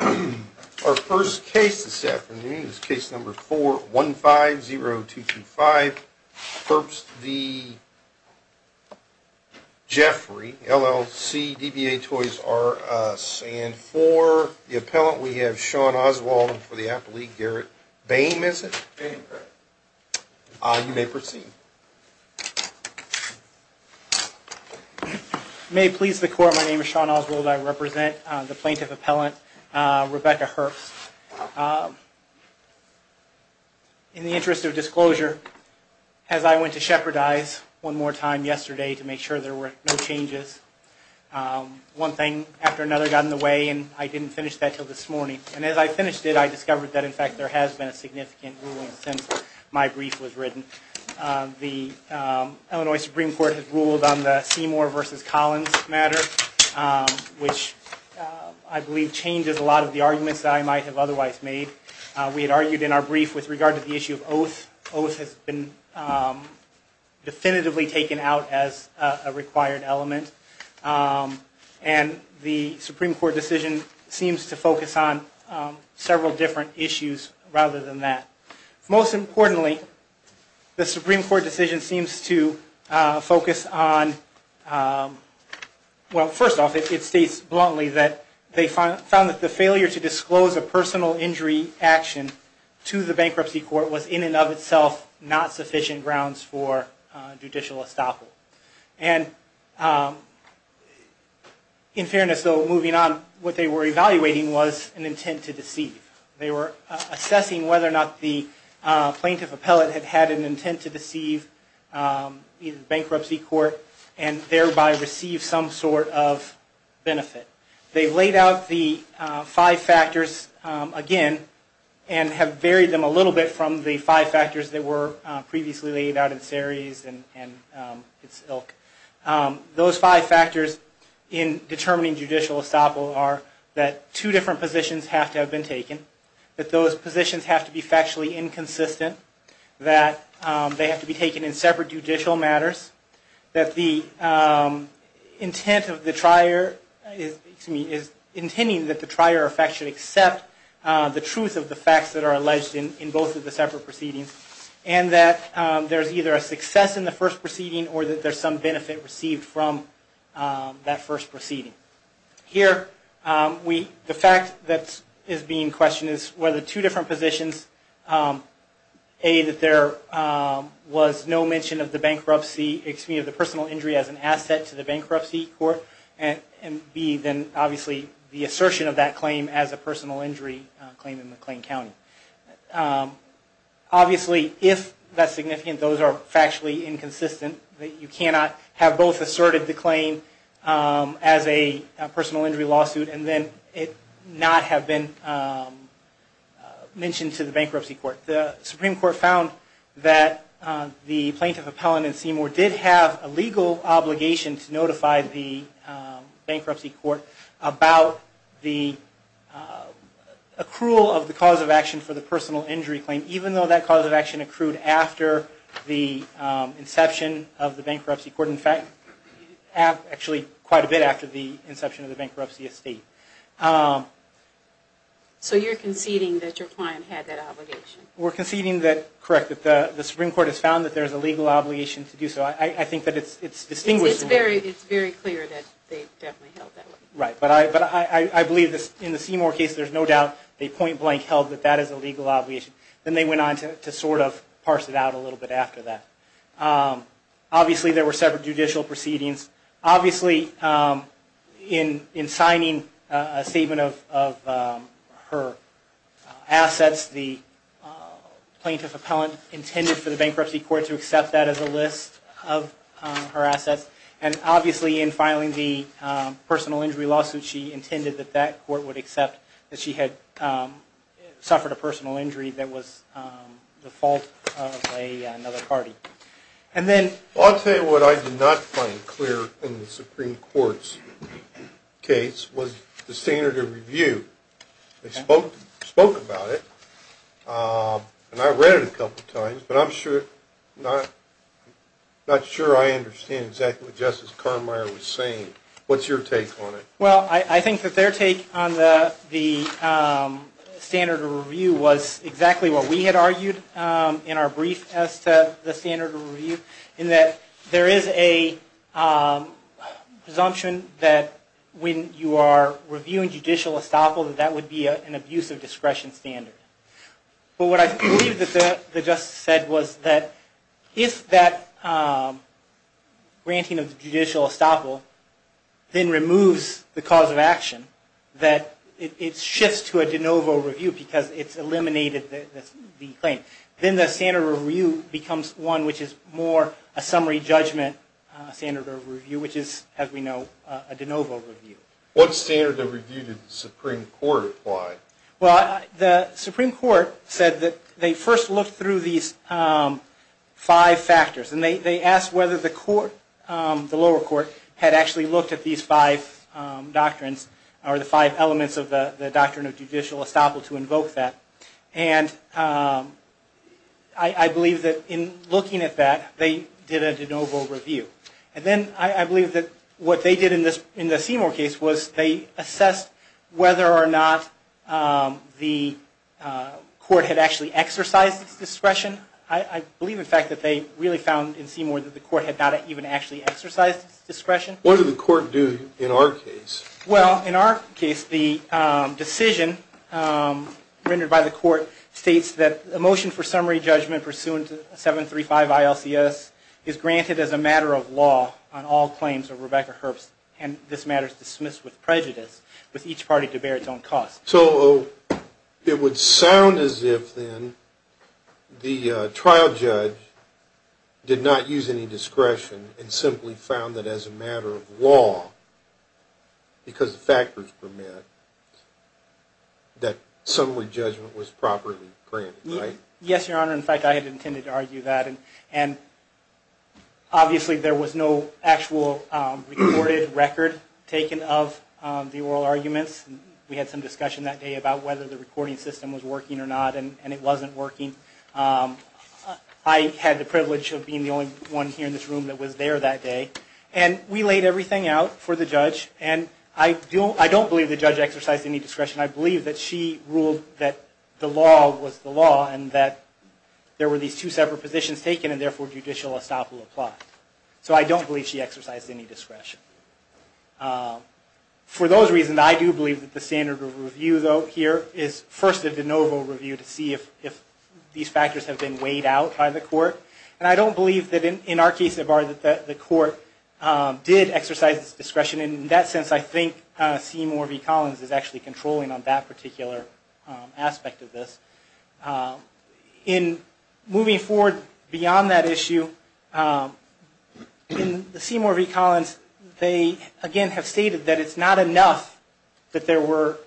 Our first case this afternoon is case number 4-150-225. Herbst v. Geoffrey, LLC, DBA Toys R Us. And for the appellant, we have Sean Oswald and for the appellate, Garrett Boehm, is it? Boehm, correct. You may proceed. May it please the Court, my name is Sean Oswald. I represent the plaintiff appellant, Rebecca Herbst. In the interest of disclosure, as I went to shepherdize one more time yesterday to make sure there were no changes, one thing after another got in the way and I didn't finish that until this morning. And as I finished it, I discovered that in fact there has been a significant ruling since my brief was written. The Illinois Supreme Court has ruled on the Seymour v. Collins matter, which I believe changes a lot of the arguments that I might have otherwise made. We had argued in our brief with regard to the issue of oath. Oath has been definitively taken out as a required element. And the Supreme Court decision seems to focus on several different issues rather than that. Most importantly, the Supreme Court decision seems to focus on, well first off, it states bluntly that they found that the failure to disclose a personal injury action to the bankruptcy court was in and of itself not sufficient grounds for judicial estoppel. And in fairness though, moving on, what they were evaluating was an intent to deceive. They were assessing whether or not the plaintiff appellate had had an intent to deceive the bankruptcy court and thereby receive some sort of benefit. They've laid out the five factors again and have varied them a little bit from the five factors that were previously laid out in series and its ilk. Those five factors in determining judicial estoppel are that two different positions have to have been taken, that those positions have to be factually inconsistent, that they have to be taken in separate judicial matters, that the intent of the trier is intending that the trier should accept the truth of the facts that are alleged in both of the separate proceedings, and that there's either a success in the first proceeding or that there's some benefit received from that first proceeding. Here, the fact that is being questioned is whether two different positions, a, that there was no mention of the bankruptcy, excuse me, of the personal injury as an asset to the bankruptcy court, and b, then obviously the assertion of that claim as a personal injury claim in McLean County. Obviously, if that's significant, those are factually inconsistent, that you cannot have both asserted the claim as a personal injury lawsuit and then it not have been mentioned to the bankruptcy court. The Supreme Court found that the plaintiff appellant in Seymour did have a legal obligation to notify the bankruptcy court about the accrual of the cause of action for the personal injury claim, even though that cause of action accrued after the inception of the bankruptcy court, actually quite a bit after the inception of the bankruptcy estate. So you're conceding that your client had that obligation? We're conceding that, correct, that the Supreme Court has found that there's a legal obligation to do so. I think that it's distinguished. It's very clear that they definitely held that way. Right, but I believe in the Seymour case, there's no doubt they point blank held that that is a legal obligation. Then they went on to sort of parse it out a little bit after that. Obviously, there were several judicial proceedings. Obviously, in signing a statement of her assets, the plaintiff appellant intended for the bankruptcy court to accept that as a list of her assets. And obviously, in filing the personal injury lawsuit, she intended that that court would accept that she had suffered a personal injury that was the fault of another party. I'll tell you what I did not find clear in the Supreme Court's case was the standard of review. They spoke about it, and I read it a couple of times, but I'm not sure I understand exactly what Justice Carmeier was saying. What's your take on it? Well, I think that their take on the standard of review was exactly what we had argued in our brief as to the standard of review, in that there is a presumption that when you are reviewing judicial estoppel, that that would be an abuse of discretion standard. But what I believe that the Justice said was that if that granting of judicial estoppel then removes the cause of action, that it shifts to a de novo review because it's eliminated the claim. Then the standard of review becomes one which is more a summary judgment standard of review, which is, as we know, a de novo review. What standard of review did the Supreme Court apply? Well, the Supreme Court said that they first looked through these five factors, and they asked whether the lower court had actually looked at these five doctrines, or the five elements of the doctrine of judicial estoppel to invoke that. And I believe that in looking at that, they did a de novo review. And then I believe that what they did in the Seymour case was they assessed whether or not the court had actually exercised its discretion. I believe, in fact, that they really found in Seymour that the court had not even actually exercised its discretion. What did the court do in our case? Well, in our case, the decision rendered by the court states that a motion for summary judgment pursuant to 735 ILCS is granted as a matter of law on all claims of Rebecca Herbst, and this matter is dismissed with prejudice with each party to bear its own cost. So it would sound as if, then, the trial judge did not use any discretion and simply found that as a matter of law, because of factors permit, that summary judgment was properly granted, right? Yes, Your Honor. In fact, I had intended to argue that. And obviously, there was no actual recorded record taken of the oral arguments. We had some discussion that day about whether the recording system was working or not, and it wasn't working. I had the privilege of being the only one here in this room that was there that day. And we laid everything out for the judge, and I don't believe the judge exercised any discretion. I believe that she ruled that the law was the law, and that there were these two separate positions taken, and therefore, judicial estoppel applied. So I don't believe she exercised any discretion. For those reasons, I do believe that the standard of review, though, here is first a de novo review to see if these factors have been weighed out by the court. And I don't believe that in our case, the court did exercise its discretion. In that sense, I think Seymour v. Collins is actually controlling on that particular aspect of this. In moving forward beyond that issue, in Seymour v. Collins, they, again, have stated that it's not enough that there were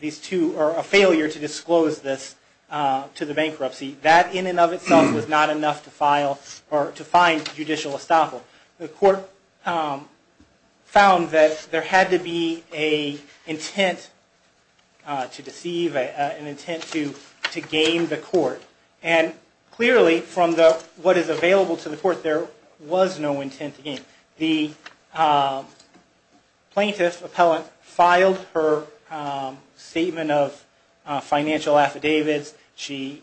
these two or a failure to disclose this to the bankruptcy. That, in and of itself, was not enough to file or to find judicial estoppel. The court found that there had to be an intent to deceive, an intent to game the court. And clearly, from what is available to the court, there was no intent to game. The plaintiff, appellant, filed her statement of financial affidavits. She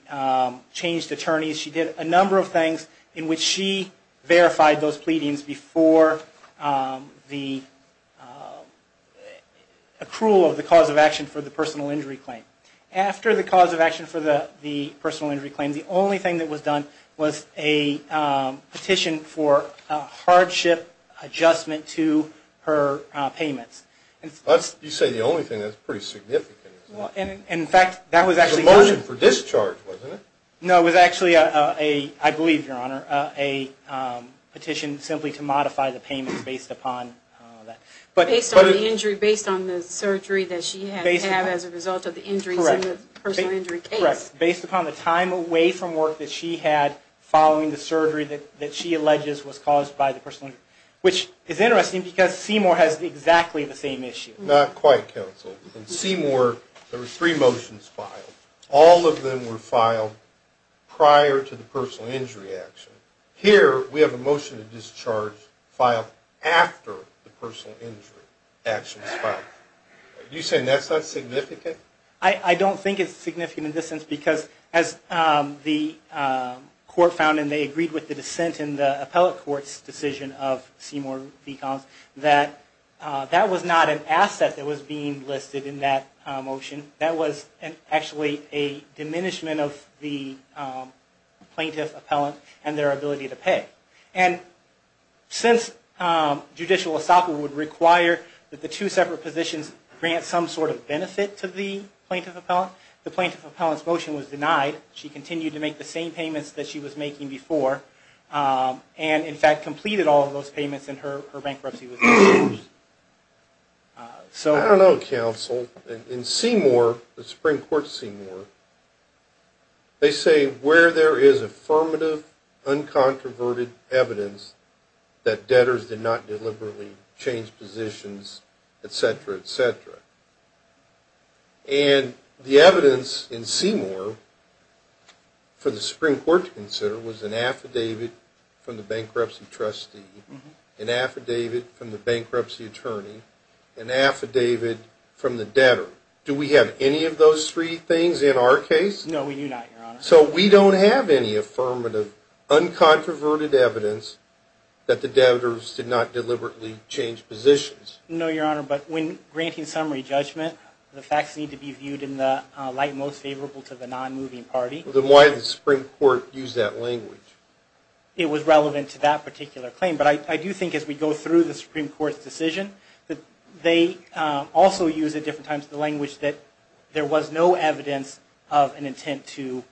changed attorneys. She did a number of things in which she verified those pleadings before the accrual of the cause of action for the personal injury claim. After the cause of action for the personal injury claim, the only thing that was done was a petition for a hardship adjustment to her payments. You say the only thing. That's pretty significant. In fact, that was actually not. It was a motion for discharge, wasn't it? No, it was actually, I believe, Your Honor, a petition simply to modify the payments based upon that. Based on the injury, based on the surgery that she had to have as a result of the injuries in the personal injury case. Correct. Based upon the time away from work that she had following the surgery that she alleges was caused by the personal injury. Which is interesting because Seymour has exactly the same issue. Not quite, counsel. In Seymour, there were three motions filed. All of them were filed prior to the personal injury action. Here, we have a motion to discharge filed after the personal injury action is filed. You're saying that's not significant? I don't think it's significant in this sense because as the court found and they agreed with the dissent in the appellate court's decision of Seymour V. a diminishment of the plaintiff appellant and their ability to pay. And since judicial estoppel would require that the two separate positions grant some sort of benefit to the plaintiff appellant, the plaintiff appellant's motion was denied. She continued to make the same payments that she was making before. And, in fact, completed all of those payments in her bankruptcy. I don't know, counsel. In Seymour, the Supreme Court of Seymour, they say where there is affirmative, uncontroverted evidence that debtors did not deliberately change positions, etc., etc. And the evidence in Seymour for the Supreme Court to consider was an affidavit from the bankruptcy trustee, an affidavit from the bankruptcy attorney, an affidavit from the debtor. Do we have any of those three things in our case? No, we do not, Your Honor. So we don't have any affirmative, uncontroverted evidence that the debtors did not deliberately change positions. No, Your Honor. But when granting summary judgment, the facts need to be viewed in the light most favorable to the non-moving party. Then why did the Supreme Court use that language? It was relevant to that particular claim. But I do think as we go through the Supreme Court's decision, that they also use at different times the language that there was no evidence of an intent to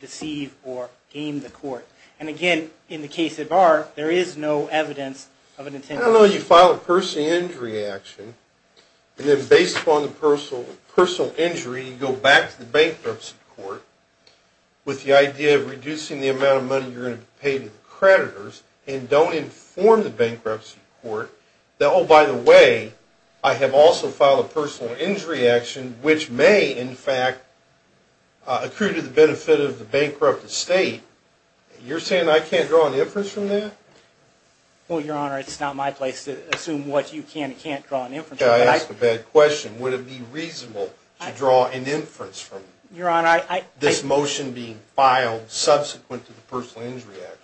deceive or game the court. And, again, in the case of Barr, there is no evidence of an intent. I don't know. You file a personal injury action, and then based upon the personal injury, you go back to the bankruptcy court with the idea of reducing the amount of money you're going to pay to the creditors and don't inform the bankruptcy court that, oh, by the way, I have also filed a personal injury action, which may, in fact, accrue to the benefit of the bankrupt estate. You're saying I can't draw an inference from that? Well, Your Honor, it's not my place to assume what you can and can't draw an inference from. I asked a bad question. Would it be reasonable to draw an inference from this motion being filed subsequent to the personal injury action?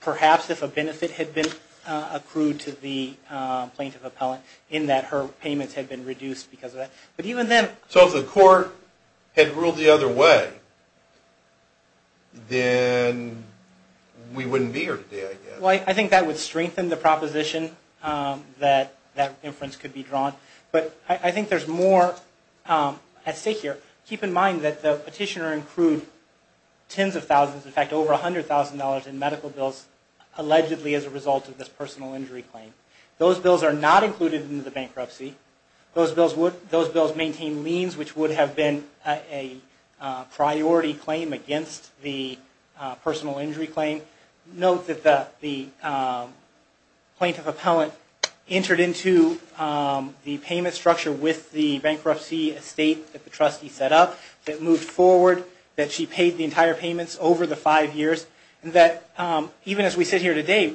Perhaps if a benefit had been accrued to the plaintiff appellant in that her payments had been reduced because of that. So if the court had ruled the other way, then we wouldn't be here today, I guess. Well, I think that would strengthen the proposition that that inference could be drawn. But I think there's more at stake here. Keep in mind that the petitioner accrued tens of thousands, in fact, over $100,000 in medical bills, allegedly as a result of this personal injury claim. Those bills are not included in the bankruptcy. Those bills maintain liens, which would have been a priority claim against the personal injury claim. Note that the plaintiff appellant entered into the payment structure with the bankruptcy estate that the trustee set up, that moved forward, that she paid the entire payments over the five years, and that even as we sit here today,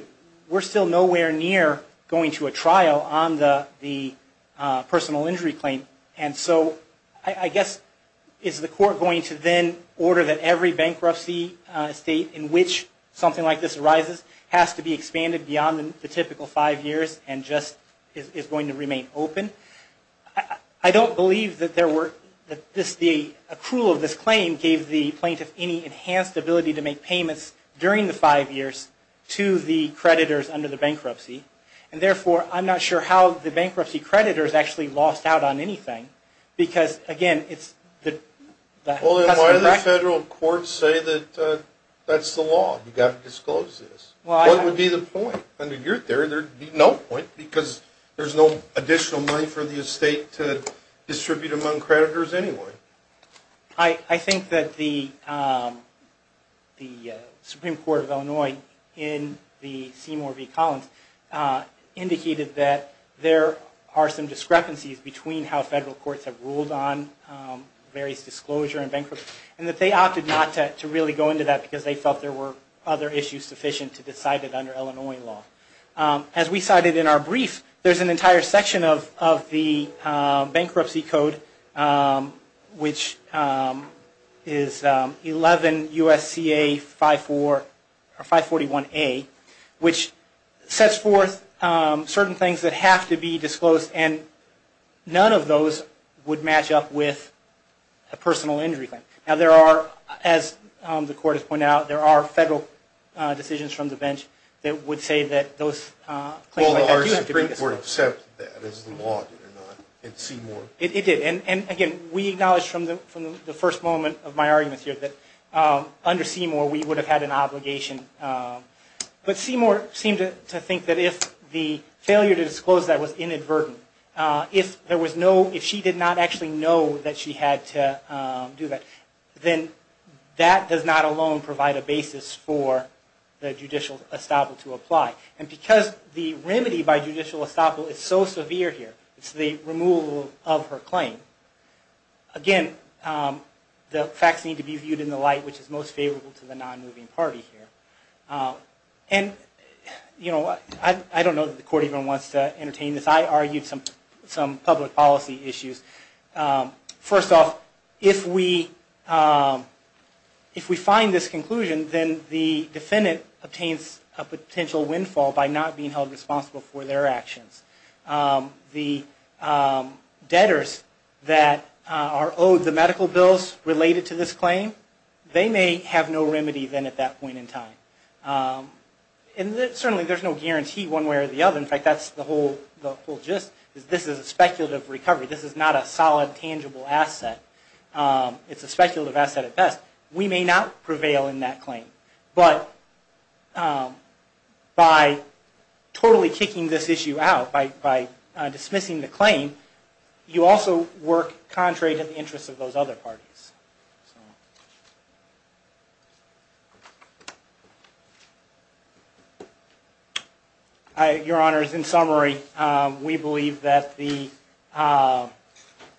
we're still nowhere near going to a trial on the personal injury claim. And so I guess, is the court going to then order that every bankruptcy estate in which something like this arises has to be expanded beyond the typical five years and just is going to remain open? I don't believe that the accrual of this claim gave the plaintiff any enhanced ability to make payments during the five years to the creditors under the bankruptcy. And therefore, I'm not sure how the bankruptcy creditors actually lost out on anything. Because, again, it's the customer record. Well, then why do the federal courts say that that's the law, you've got to disclose this? What would be the point? No point, because there's no additional money for the estate to distribute among creditors anyway. I think that the Supreme Court of Illinois in the Seymour v. Collins indicated that there are some discrepancies between how federal courts have ruled on various disclosure and bankruptcy, and that they opted not to really go into that because they felt there were other issues sufficient to decide it under Illinois law. As we cited in our brief, there's an entire section of the Bankruptcy Code, which is 11 U.S.C.A. 541A, which sets forth certain things that have to be disclosed, and none of those would match up with a personal injury claim. Now, there are, as the Court has pointed out, there are federal decisions from the bench that would say that those... Well, did the Supreme Court accept that as the law, did it not, in Seymour? It did. And, again, we acknowledged from the first moment of my arguments here that under Seymour we would have had an obligation. But Seymour seemed to think that if the failure to disclose that was inadvertent, if she did not actually know that she had to do that, then that does not alone provide a basis for the judicial estoppel to apply. And because the remedy by judicial estoppel is so severe here, it's the removal of her claim, again, the facts need to be viewed in the light which is most favorable to the non-moving party here. And, you know, I don't know that the Court even wants to entertain this. I argued some public policy issues. First off, if we find this conclusion, then the defendant obtains a potential windfall by not being held responsible for their actions. The debtors that are owed the medical bills related to this claim, they may have no remedy then at that point in time. And certainly there's no guarantee one way or the other. In fact, that's the whole gist. This is a speculative recovery. This is not a solid, tangible asset. It's a speculative asset at best. We may not prevail in that claim, but by totally kicking this issue out, by dismissing the claim, you also work contrary to the interests of those other parties. Your Honors, in summary, we believe that the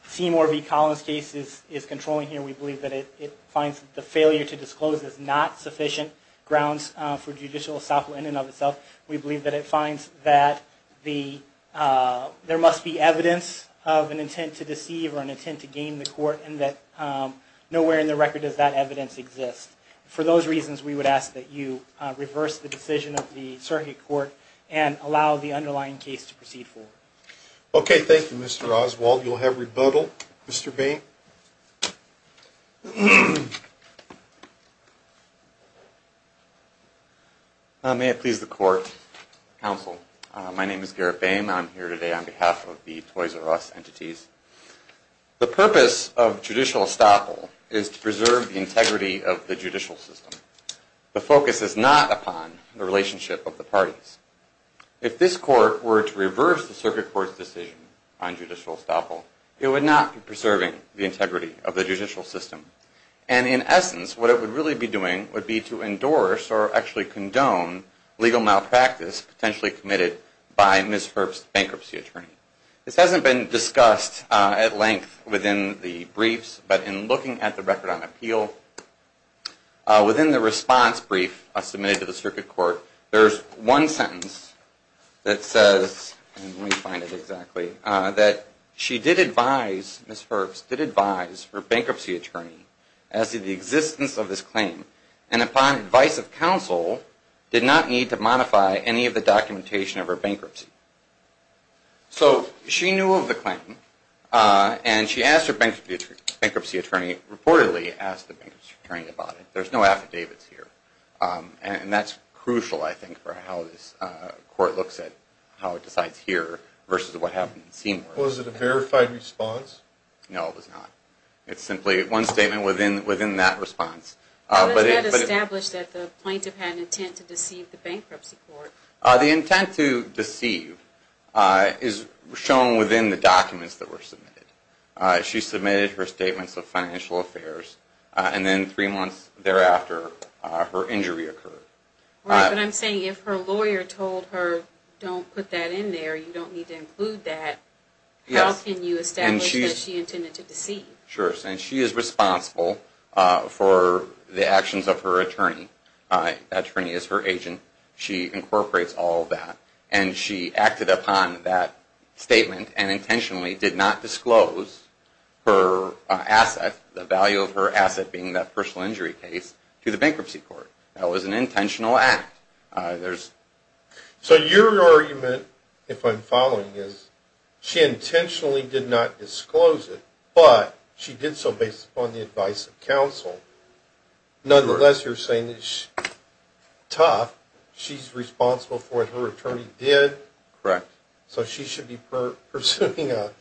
Seymour v. Collins case is controlling here. We believe that it finds the failure to disclose is not sufficient grounds for judicial estoppel in and of itself. We believe that it finds that there must be evidence of an intent to deceive or an intent to gain the Court and that nowhere in the record does that evidence exist. For those reasons, we would ask that you reverse the decision of the Circuit Court and allow the underlying case to proceed forward. Okay. Thank you, Mr. Oswald. You'll have rebuttal. Mr. Boehm. May it please the Court, Counsel. My name is Garrett Boehm. I'm here today on behalf of the Toys R Us entities. The purpose of judicial estoppel is to preserve the integrity of the judicial system. The focus is not upon the relationship of the parties. If this Court were to reverse the Circuit Court's decision on judicial estoppel, it would not be preserving the integrity of the judicial system. And in essence, what it would really be doing would be to endorse or actually condone legal malpractice potentially committed by Ms. Herbst's bankruptcy attorney. This hasn't been discussed at length within the briefs, but in looking at the record on appeal, within the response brief submitted to the Circuit Court, there's one sentence that says, let me find it exactly, that she did advise, Ms. Herbst did advise her bankruptcy attorney as to the existence of this claim. And upon advice of counsel, did not need to modify any of the documentation of her bankruptcy. So she knew of the claim, and she asked her bankruptcy attorney, reportedly asked the bankruptcy attorney about it. There's no affidavits here. And that's crucial, I think, for how this Court looks at how it decides here versus what happened in Seymour. Was it a verified response? No, it was not. It's simply one statement within that response. But it's not established that the plaintiff had an intent to deceive the bankruptcy court. The intent to deceive is shown within the documents that were submitted. She submitted her statements of financial affairs, and then three months thereafter, her injury occurred. Right, but I'm saying if her lawyer told her, don't put that in there, you don't need to include that, how can you establish that she intended to deceive? Sure, and she is responsible for the actions of her attorney. That attorney is her agent. She incorporates all of that. And she acted upon that statement and intentionally did not disclose her asset, the value of her asset being that personal injury case, to the bankruptcy court. That was an intentional act. So your argument, if I'm following, is she intentionally did not disclose it, but she did so based upon the advice of counsel. Nonetheless, you're saying it's tough. She's responsible for it. Her attorney did. Correct. So she should be pursuing a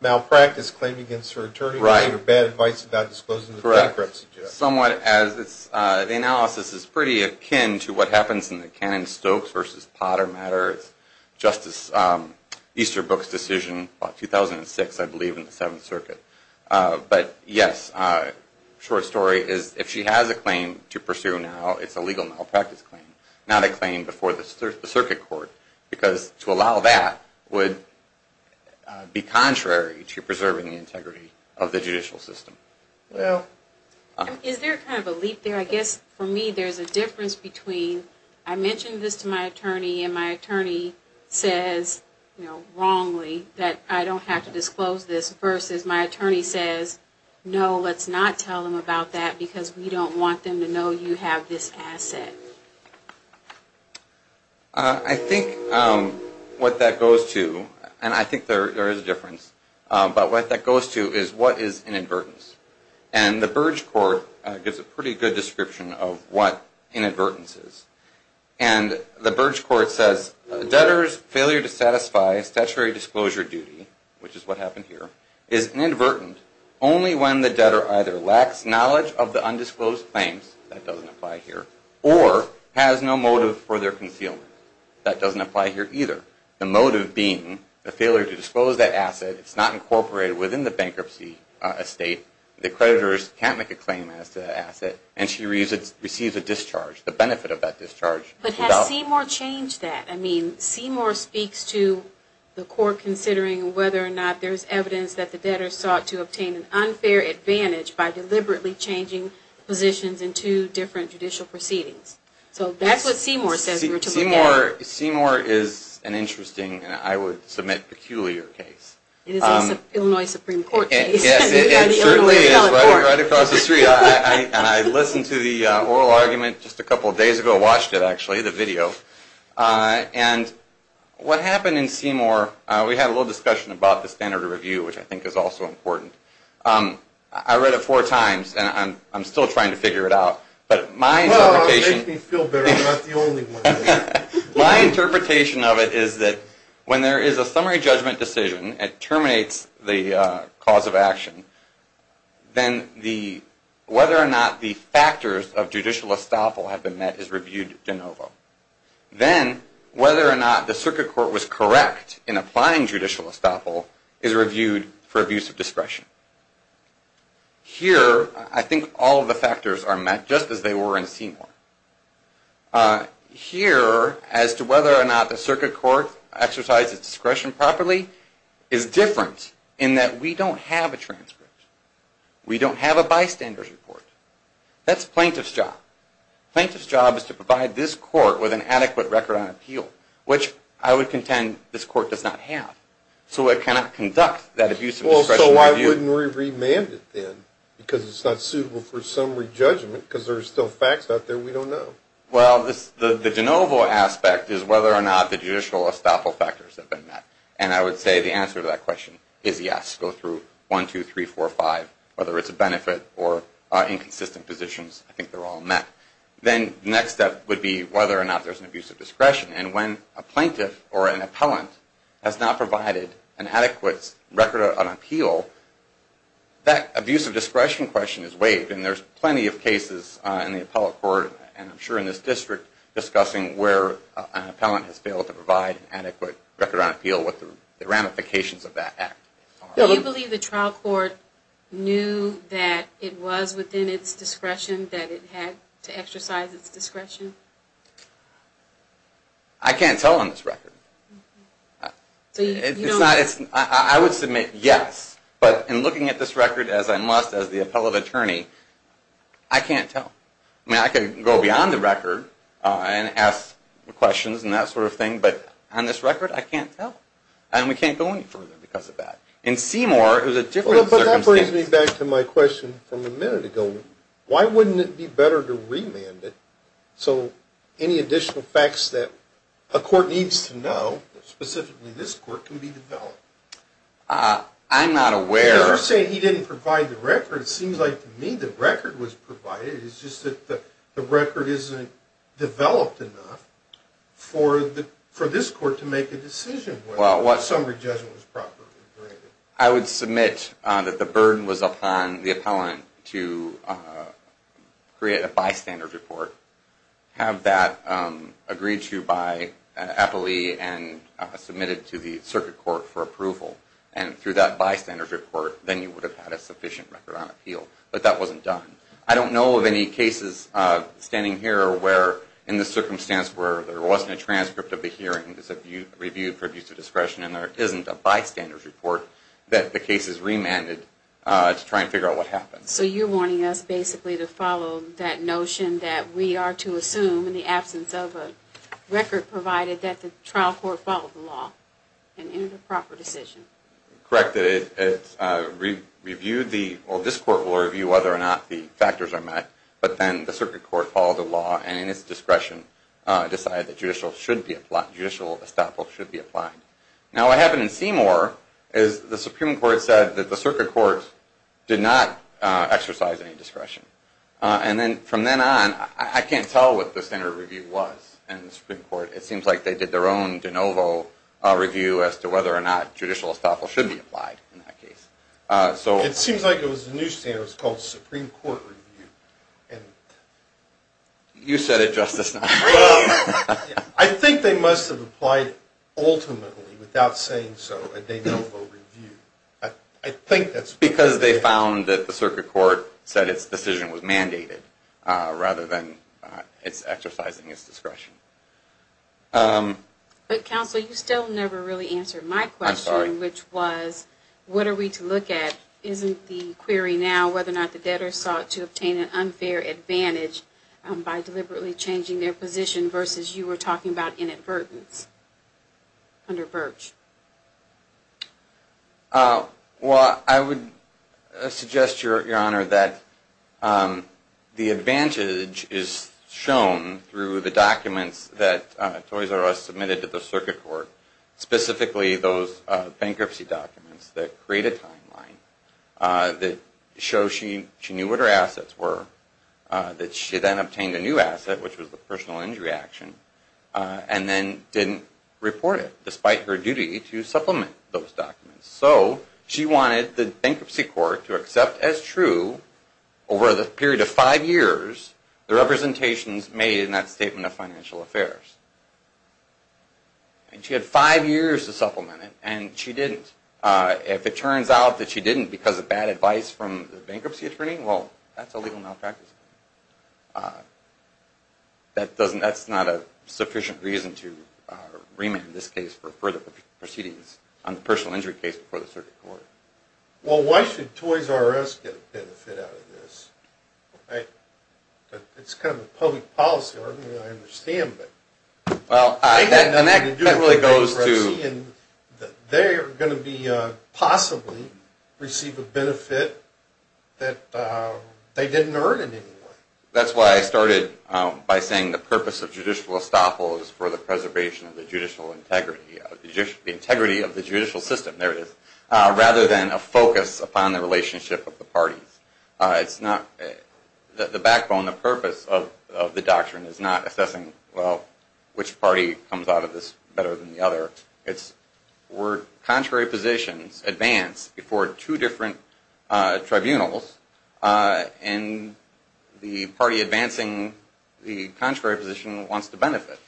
malpractice claim against her attorney to give her bad advice about disclosing the bankruptcy. Correct. Somewhat as the analysis is pretty akin to what happens in the Cannon-Stokes v. Potter matter. It's Justice Easterbrook's decision about 2006, I believe, in the Seventh Circuit. But yes, short story, if she has a claim to pursue now, it's a legal malpractice claim. Not a claim before the circuit court. Because to allow that would be contrary to preserving the integrity of the judicial system. Is there kind of a leap there? I guess for me there's a difference between I mention this to my attorney and my attorney says wrongly that I don't have to disclose this versus my attorney says, no, let's not tell them about that because we don't want them to know you have this asset. I think what that goes to, and I think there is a difference, but what that goes to is what is inadvertence. And the Burge Court gives a pretty good description of what inadvertence is. And the Burge Court says debtor's failure to satisfy statutory disclosure duty, which is what happened here, is inadvertent only when the debtor either lacks knowledge of the undisclosed claims, that doesn't apply here, or has no motive for their concealment. That doesn't apply here either. The motive being the failure to disclose that asset, it's not incorporated within the bankruptcy estate, the creditors can't make a claim as to that asset, and she receives a discharge, the benefit of that discharge. But has Seymour changed that? I mean, Seymour speaks to the court considering whether or not there's evidence that the debtor sought to obtain an unfair advantage by deliberately changing positions in two different judicial proceedings. So that's what Seymour says. Seymour is an interesting, and I would submit peculiar case. It is a Illinois Supreme Court case. Yes, it certainly is, right across the street. And I listened to the oral argument just a couple of days ago, watched it actually, the video. And what happened in Seymour, we had a little discussion about the standard of review, which I think is also important. I read it four times, and I'm still trying to figure it out. Well, it makes me feel better. I'm not the only one. My interpretation of it is that when there is a summary judgment decision that terminates the cause of action, then whether or not the factors of judicial estoppel have been met is reviewed de novo. Then whether or not the circuit court was correct in applying judicial estoppel is reviewed for abuse of discretion. Here, I think all of the factors are met, just as they were in Seymour. Here, as to whether or not the circuit court exercised its discretion properly is different, in that we don't have a transcript. We don't have a bystander's report. That's plaintiff's job. Plaintiff's job is to provide this court with an adequate record on appeal, which I would contend this court does not have. So it cannot conduct that abuse of discretion review. Well, so why wouldn't we remand it then? Because it's not suitable for summary judgment, because there are still facts out there we don't know. Well, the de novo aspect is whether or not the judicial estoppel factors have been met. And I would say the answer to that question is yes. Go through one, two, three, four, five, whether it's a benefit or inconsistent positions. I think they're all met. And when a plaintiff or an appellant has not provided an adequate record on appeal, that abuse of discretion question is waived. And there's plenty of cases in the appellate court, and I'm sure in this district, discussing where an appellant has failed to provide an adequate record on appeal, what the ramifications of that act are. Do you believe the trial court knew that it was within its discretion, that it had to exercise its discretion? I can't tell on this record. I would submit yes. But in looking at this record as I must as the appellate attorney, I can't tell. I mean, I could go beyond the record and ask questions and that sort of thing, but on this record, I can't tell. And we can't go any further because of that. In Seymour, it was a different circumstance. But that brings me back to my question from a minute ago. Why wouldn't it be better to remand it so any additional facts that a court needs to know, specifically this court, can be developed? I'm not aware. You're saying he didn't provide the record. It seems like to me the record was provided. It's just that the record isn't developed enough for this court to make a decision whether the summary judgment was properly graded. I would submit that the burden was upon the appellant to create a bystander's report, have that agreed to by an appellee and submitted to the circuit court for approval. And through that bystander's report, then you would have had a sufficient record on appeal. But that wasn't done. I don't know of any cases standing here where, in this circumstance, where there wasn't a transcript of the hearing that's reviewed for abuse of discretion and there isn't a bystander's report that the case is remanded to try and figure out what happened. So you're wanting us basically to follow that notion that we are to assume, in the absence of a record provided, that the trial court followed the law and entered a proper decision. Correct. Well, this court will review whether or not the factors are met, but then the circuit court followed the law and, in its discretion, decided that judicial estoppel should be applied. Now what happened in Seymour is the Supreme Court said that the circuit court did not exercise any discretion. And then from then on, I can't tell what the standard review was in the Supreme Court. It seems like they did their own de novo review as to whether or not judicial estoppel should be applied in that case. It seems like it was a new standard. It was called the Supreme Court review. You said it, Justice. I think they must have applied ultimately, without saying so, a de novo review. I think that's what they did. Because they found that the circuit court said its decision was mandated rather than exercising its discretion. But, Counsel, you still never really answered my question, which was, what are we to look at? Isn't the query now whether or not the debtors sought to obtain an unfair advantage by deliberately changing their position versus you were talking about inadvertence under Birch? Well, I would suggest, Your Honor, that the advantage is shown through the documents that Toys R Us submitted to the circuit court, specifically those bankruptcy documents that create a timeline that shows she knew what her assets were, that she then obtained a new asset, which was the personal injury action, and then didn't report it, despite her duty to supplement those documents. So, she wanted the bankruptcy court to accept as true, over the period of five years, the representations made in that statement of financial affairs. And she had five years to supplement it, and she didn't. If it turns out that she didn't because of bad advice from the bankruptcy attorney, well, that's a legal malpractice. And that's not a sufficient reason to remand this case for further proceedings on the personal injury case before the circuit court. Well, why should Toys R Us get a benefit out of this? It's kind of a public policy argument, I understand, but... Well, that really goes to... That they are going to possibly receive a benefit that they didn't earn in any way. That's why I started by saying the purpose of judicial estoppel is for the preservation of the judicial integrity, the integrity of the judicial system, there it is, rather than a focus upon the relationship of the parties. It's not... The backbone, the purpose of the doctrine is not assessing, well, which party comes out of this better than the other. It's where contrary positions advance before two different tribunals, and the party advancing the contrary position wants to benefit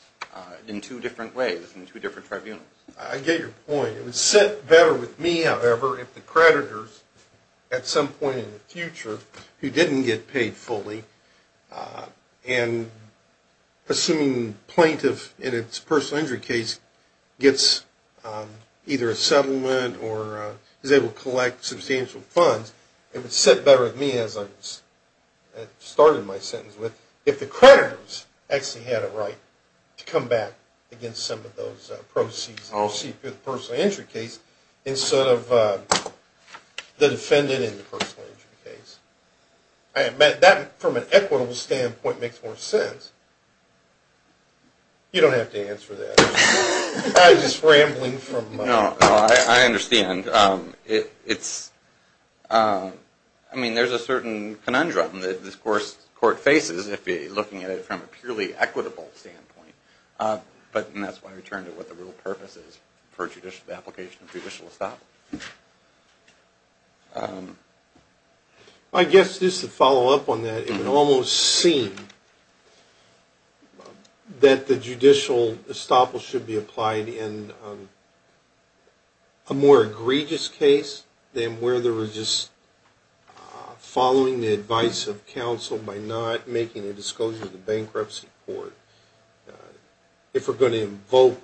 in two different ways, in two different tribunals. I get your point. It would sit better with me, however, if the creditors, at some point in the future, who didn't get paid fully, and a presuming plaintiff in its personal injury case gets either a settlement or is able to collect substantial funds. It would sit better with me, as I started my sentence with, if the creditors actually had a right to come back against some of those proceeds received through the personal injury case, instead of the defendant in the personal injury case. That, from an equitable standpoint, makes more sense. You don't have to answer that. I was just rambling from... No, I understand. I mean, there's a certain conundrum that this court faces, if you're looking at it from a purely equitable standpoint. And that's why we turn to what the real purpose is for the application of judicial establishment. I guess, just to follow up on that, it would almost seem that the judicial estoppel should be applied in a more egregious case than where there was just following the advice of counsel by not making a disclosure to the bankruptcy court. If we're going to invoke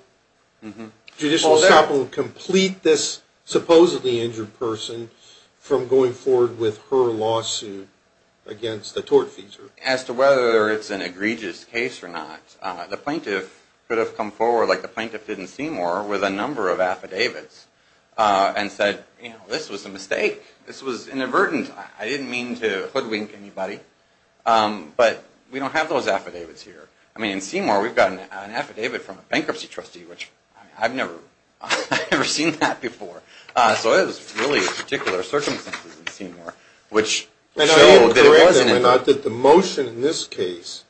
judicial estoppel and complete this supposedly injured person from going forward with her lawsuit against the tortfeasor. As to whether it's an egregious case or not, the plaintiff could have come forward, like the plaintiff did in Seymour, with a number of affidavits and said, you know, this was a mistake. This was inadvertent. I didn't mean to hoodwink anybody. But we don't have those affidavits here. I mean, in Seymour, we've got an affidavit from a bankruptcy trustee, which I've never seen that before. So it was really a particular circumstance in Seymour, which showed that it wasn't. And I am correct, if I'm not, that the motion in this case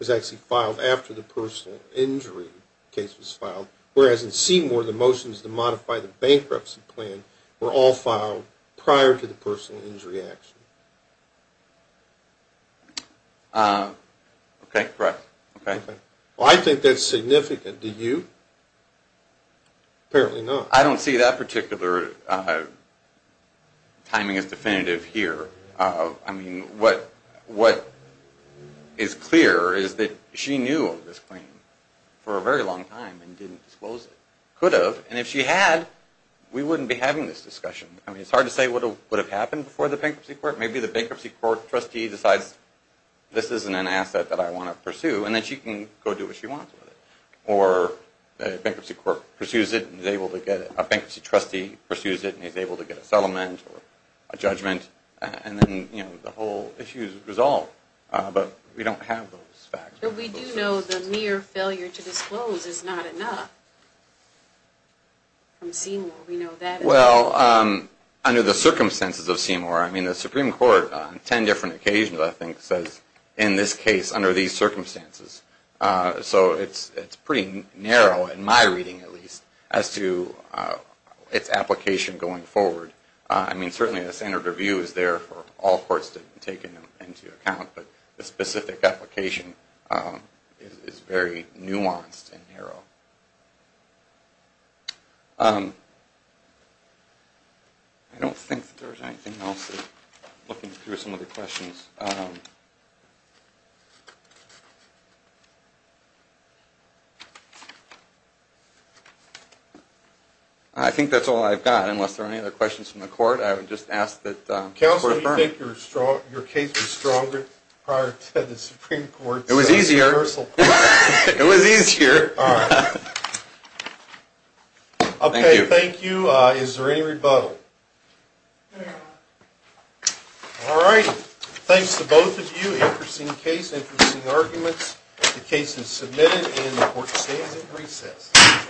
was actually filed after the personal injury case was filed, whereas in Seymour, the motions to modify the bankruptcy plan were all filed prior to the personal injury action. Okay, correct. Well, I think that's significant. Do you? Apparently not. I don't see that particular timing as definitive here. I mean, what is clear is that she knew of this claim for a very long time and didn't disclose it. Could have. And if she had, we wouldn't be having this discussion. I mean, it's hard to say what would have happened before the bankruptcy court. A bankruptcy trustee decides this isn't an asset that I want to pursue, and then she can go do what she wants with it. Or a bankruptcy trustee pursues it and is able to get a settlement or a judgment, and then the whole issue is resolved. But we don't have those facts. But we do know the mere failure to disclose is not enough. From Seymour, we know that. Well, under the circumstances of Seymour, I mean, the Supreme Court on ten different occasions, I think, says in this case under these circumstances. So it's pretty narrow, in my reading at least, as to its application going forward. I mean, certainly the standard review is there for all courts to take into account, I don't think there's anything else. I'm looking through some of the questions. I think that's all I've got, unless there are any other questions from the court. I would just ask that we refer. Counsel, do you think your case was stronger prior to the Supreme Court's reversal? It was easier. It was easier. All right. Thank you. Okay, thank you. Is there any rebuttal? No. All right. Thanks to both of you. Interesting case, interesting arguments. The case is submitted, and the court stands at recess.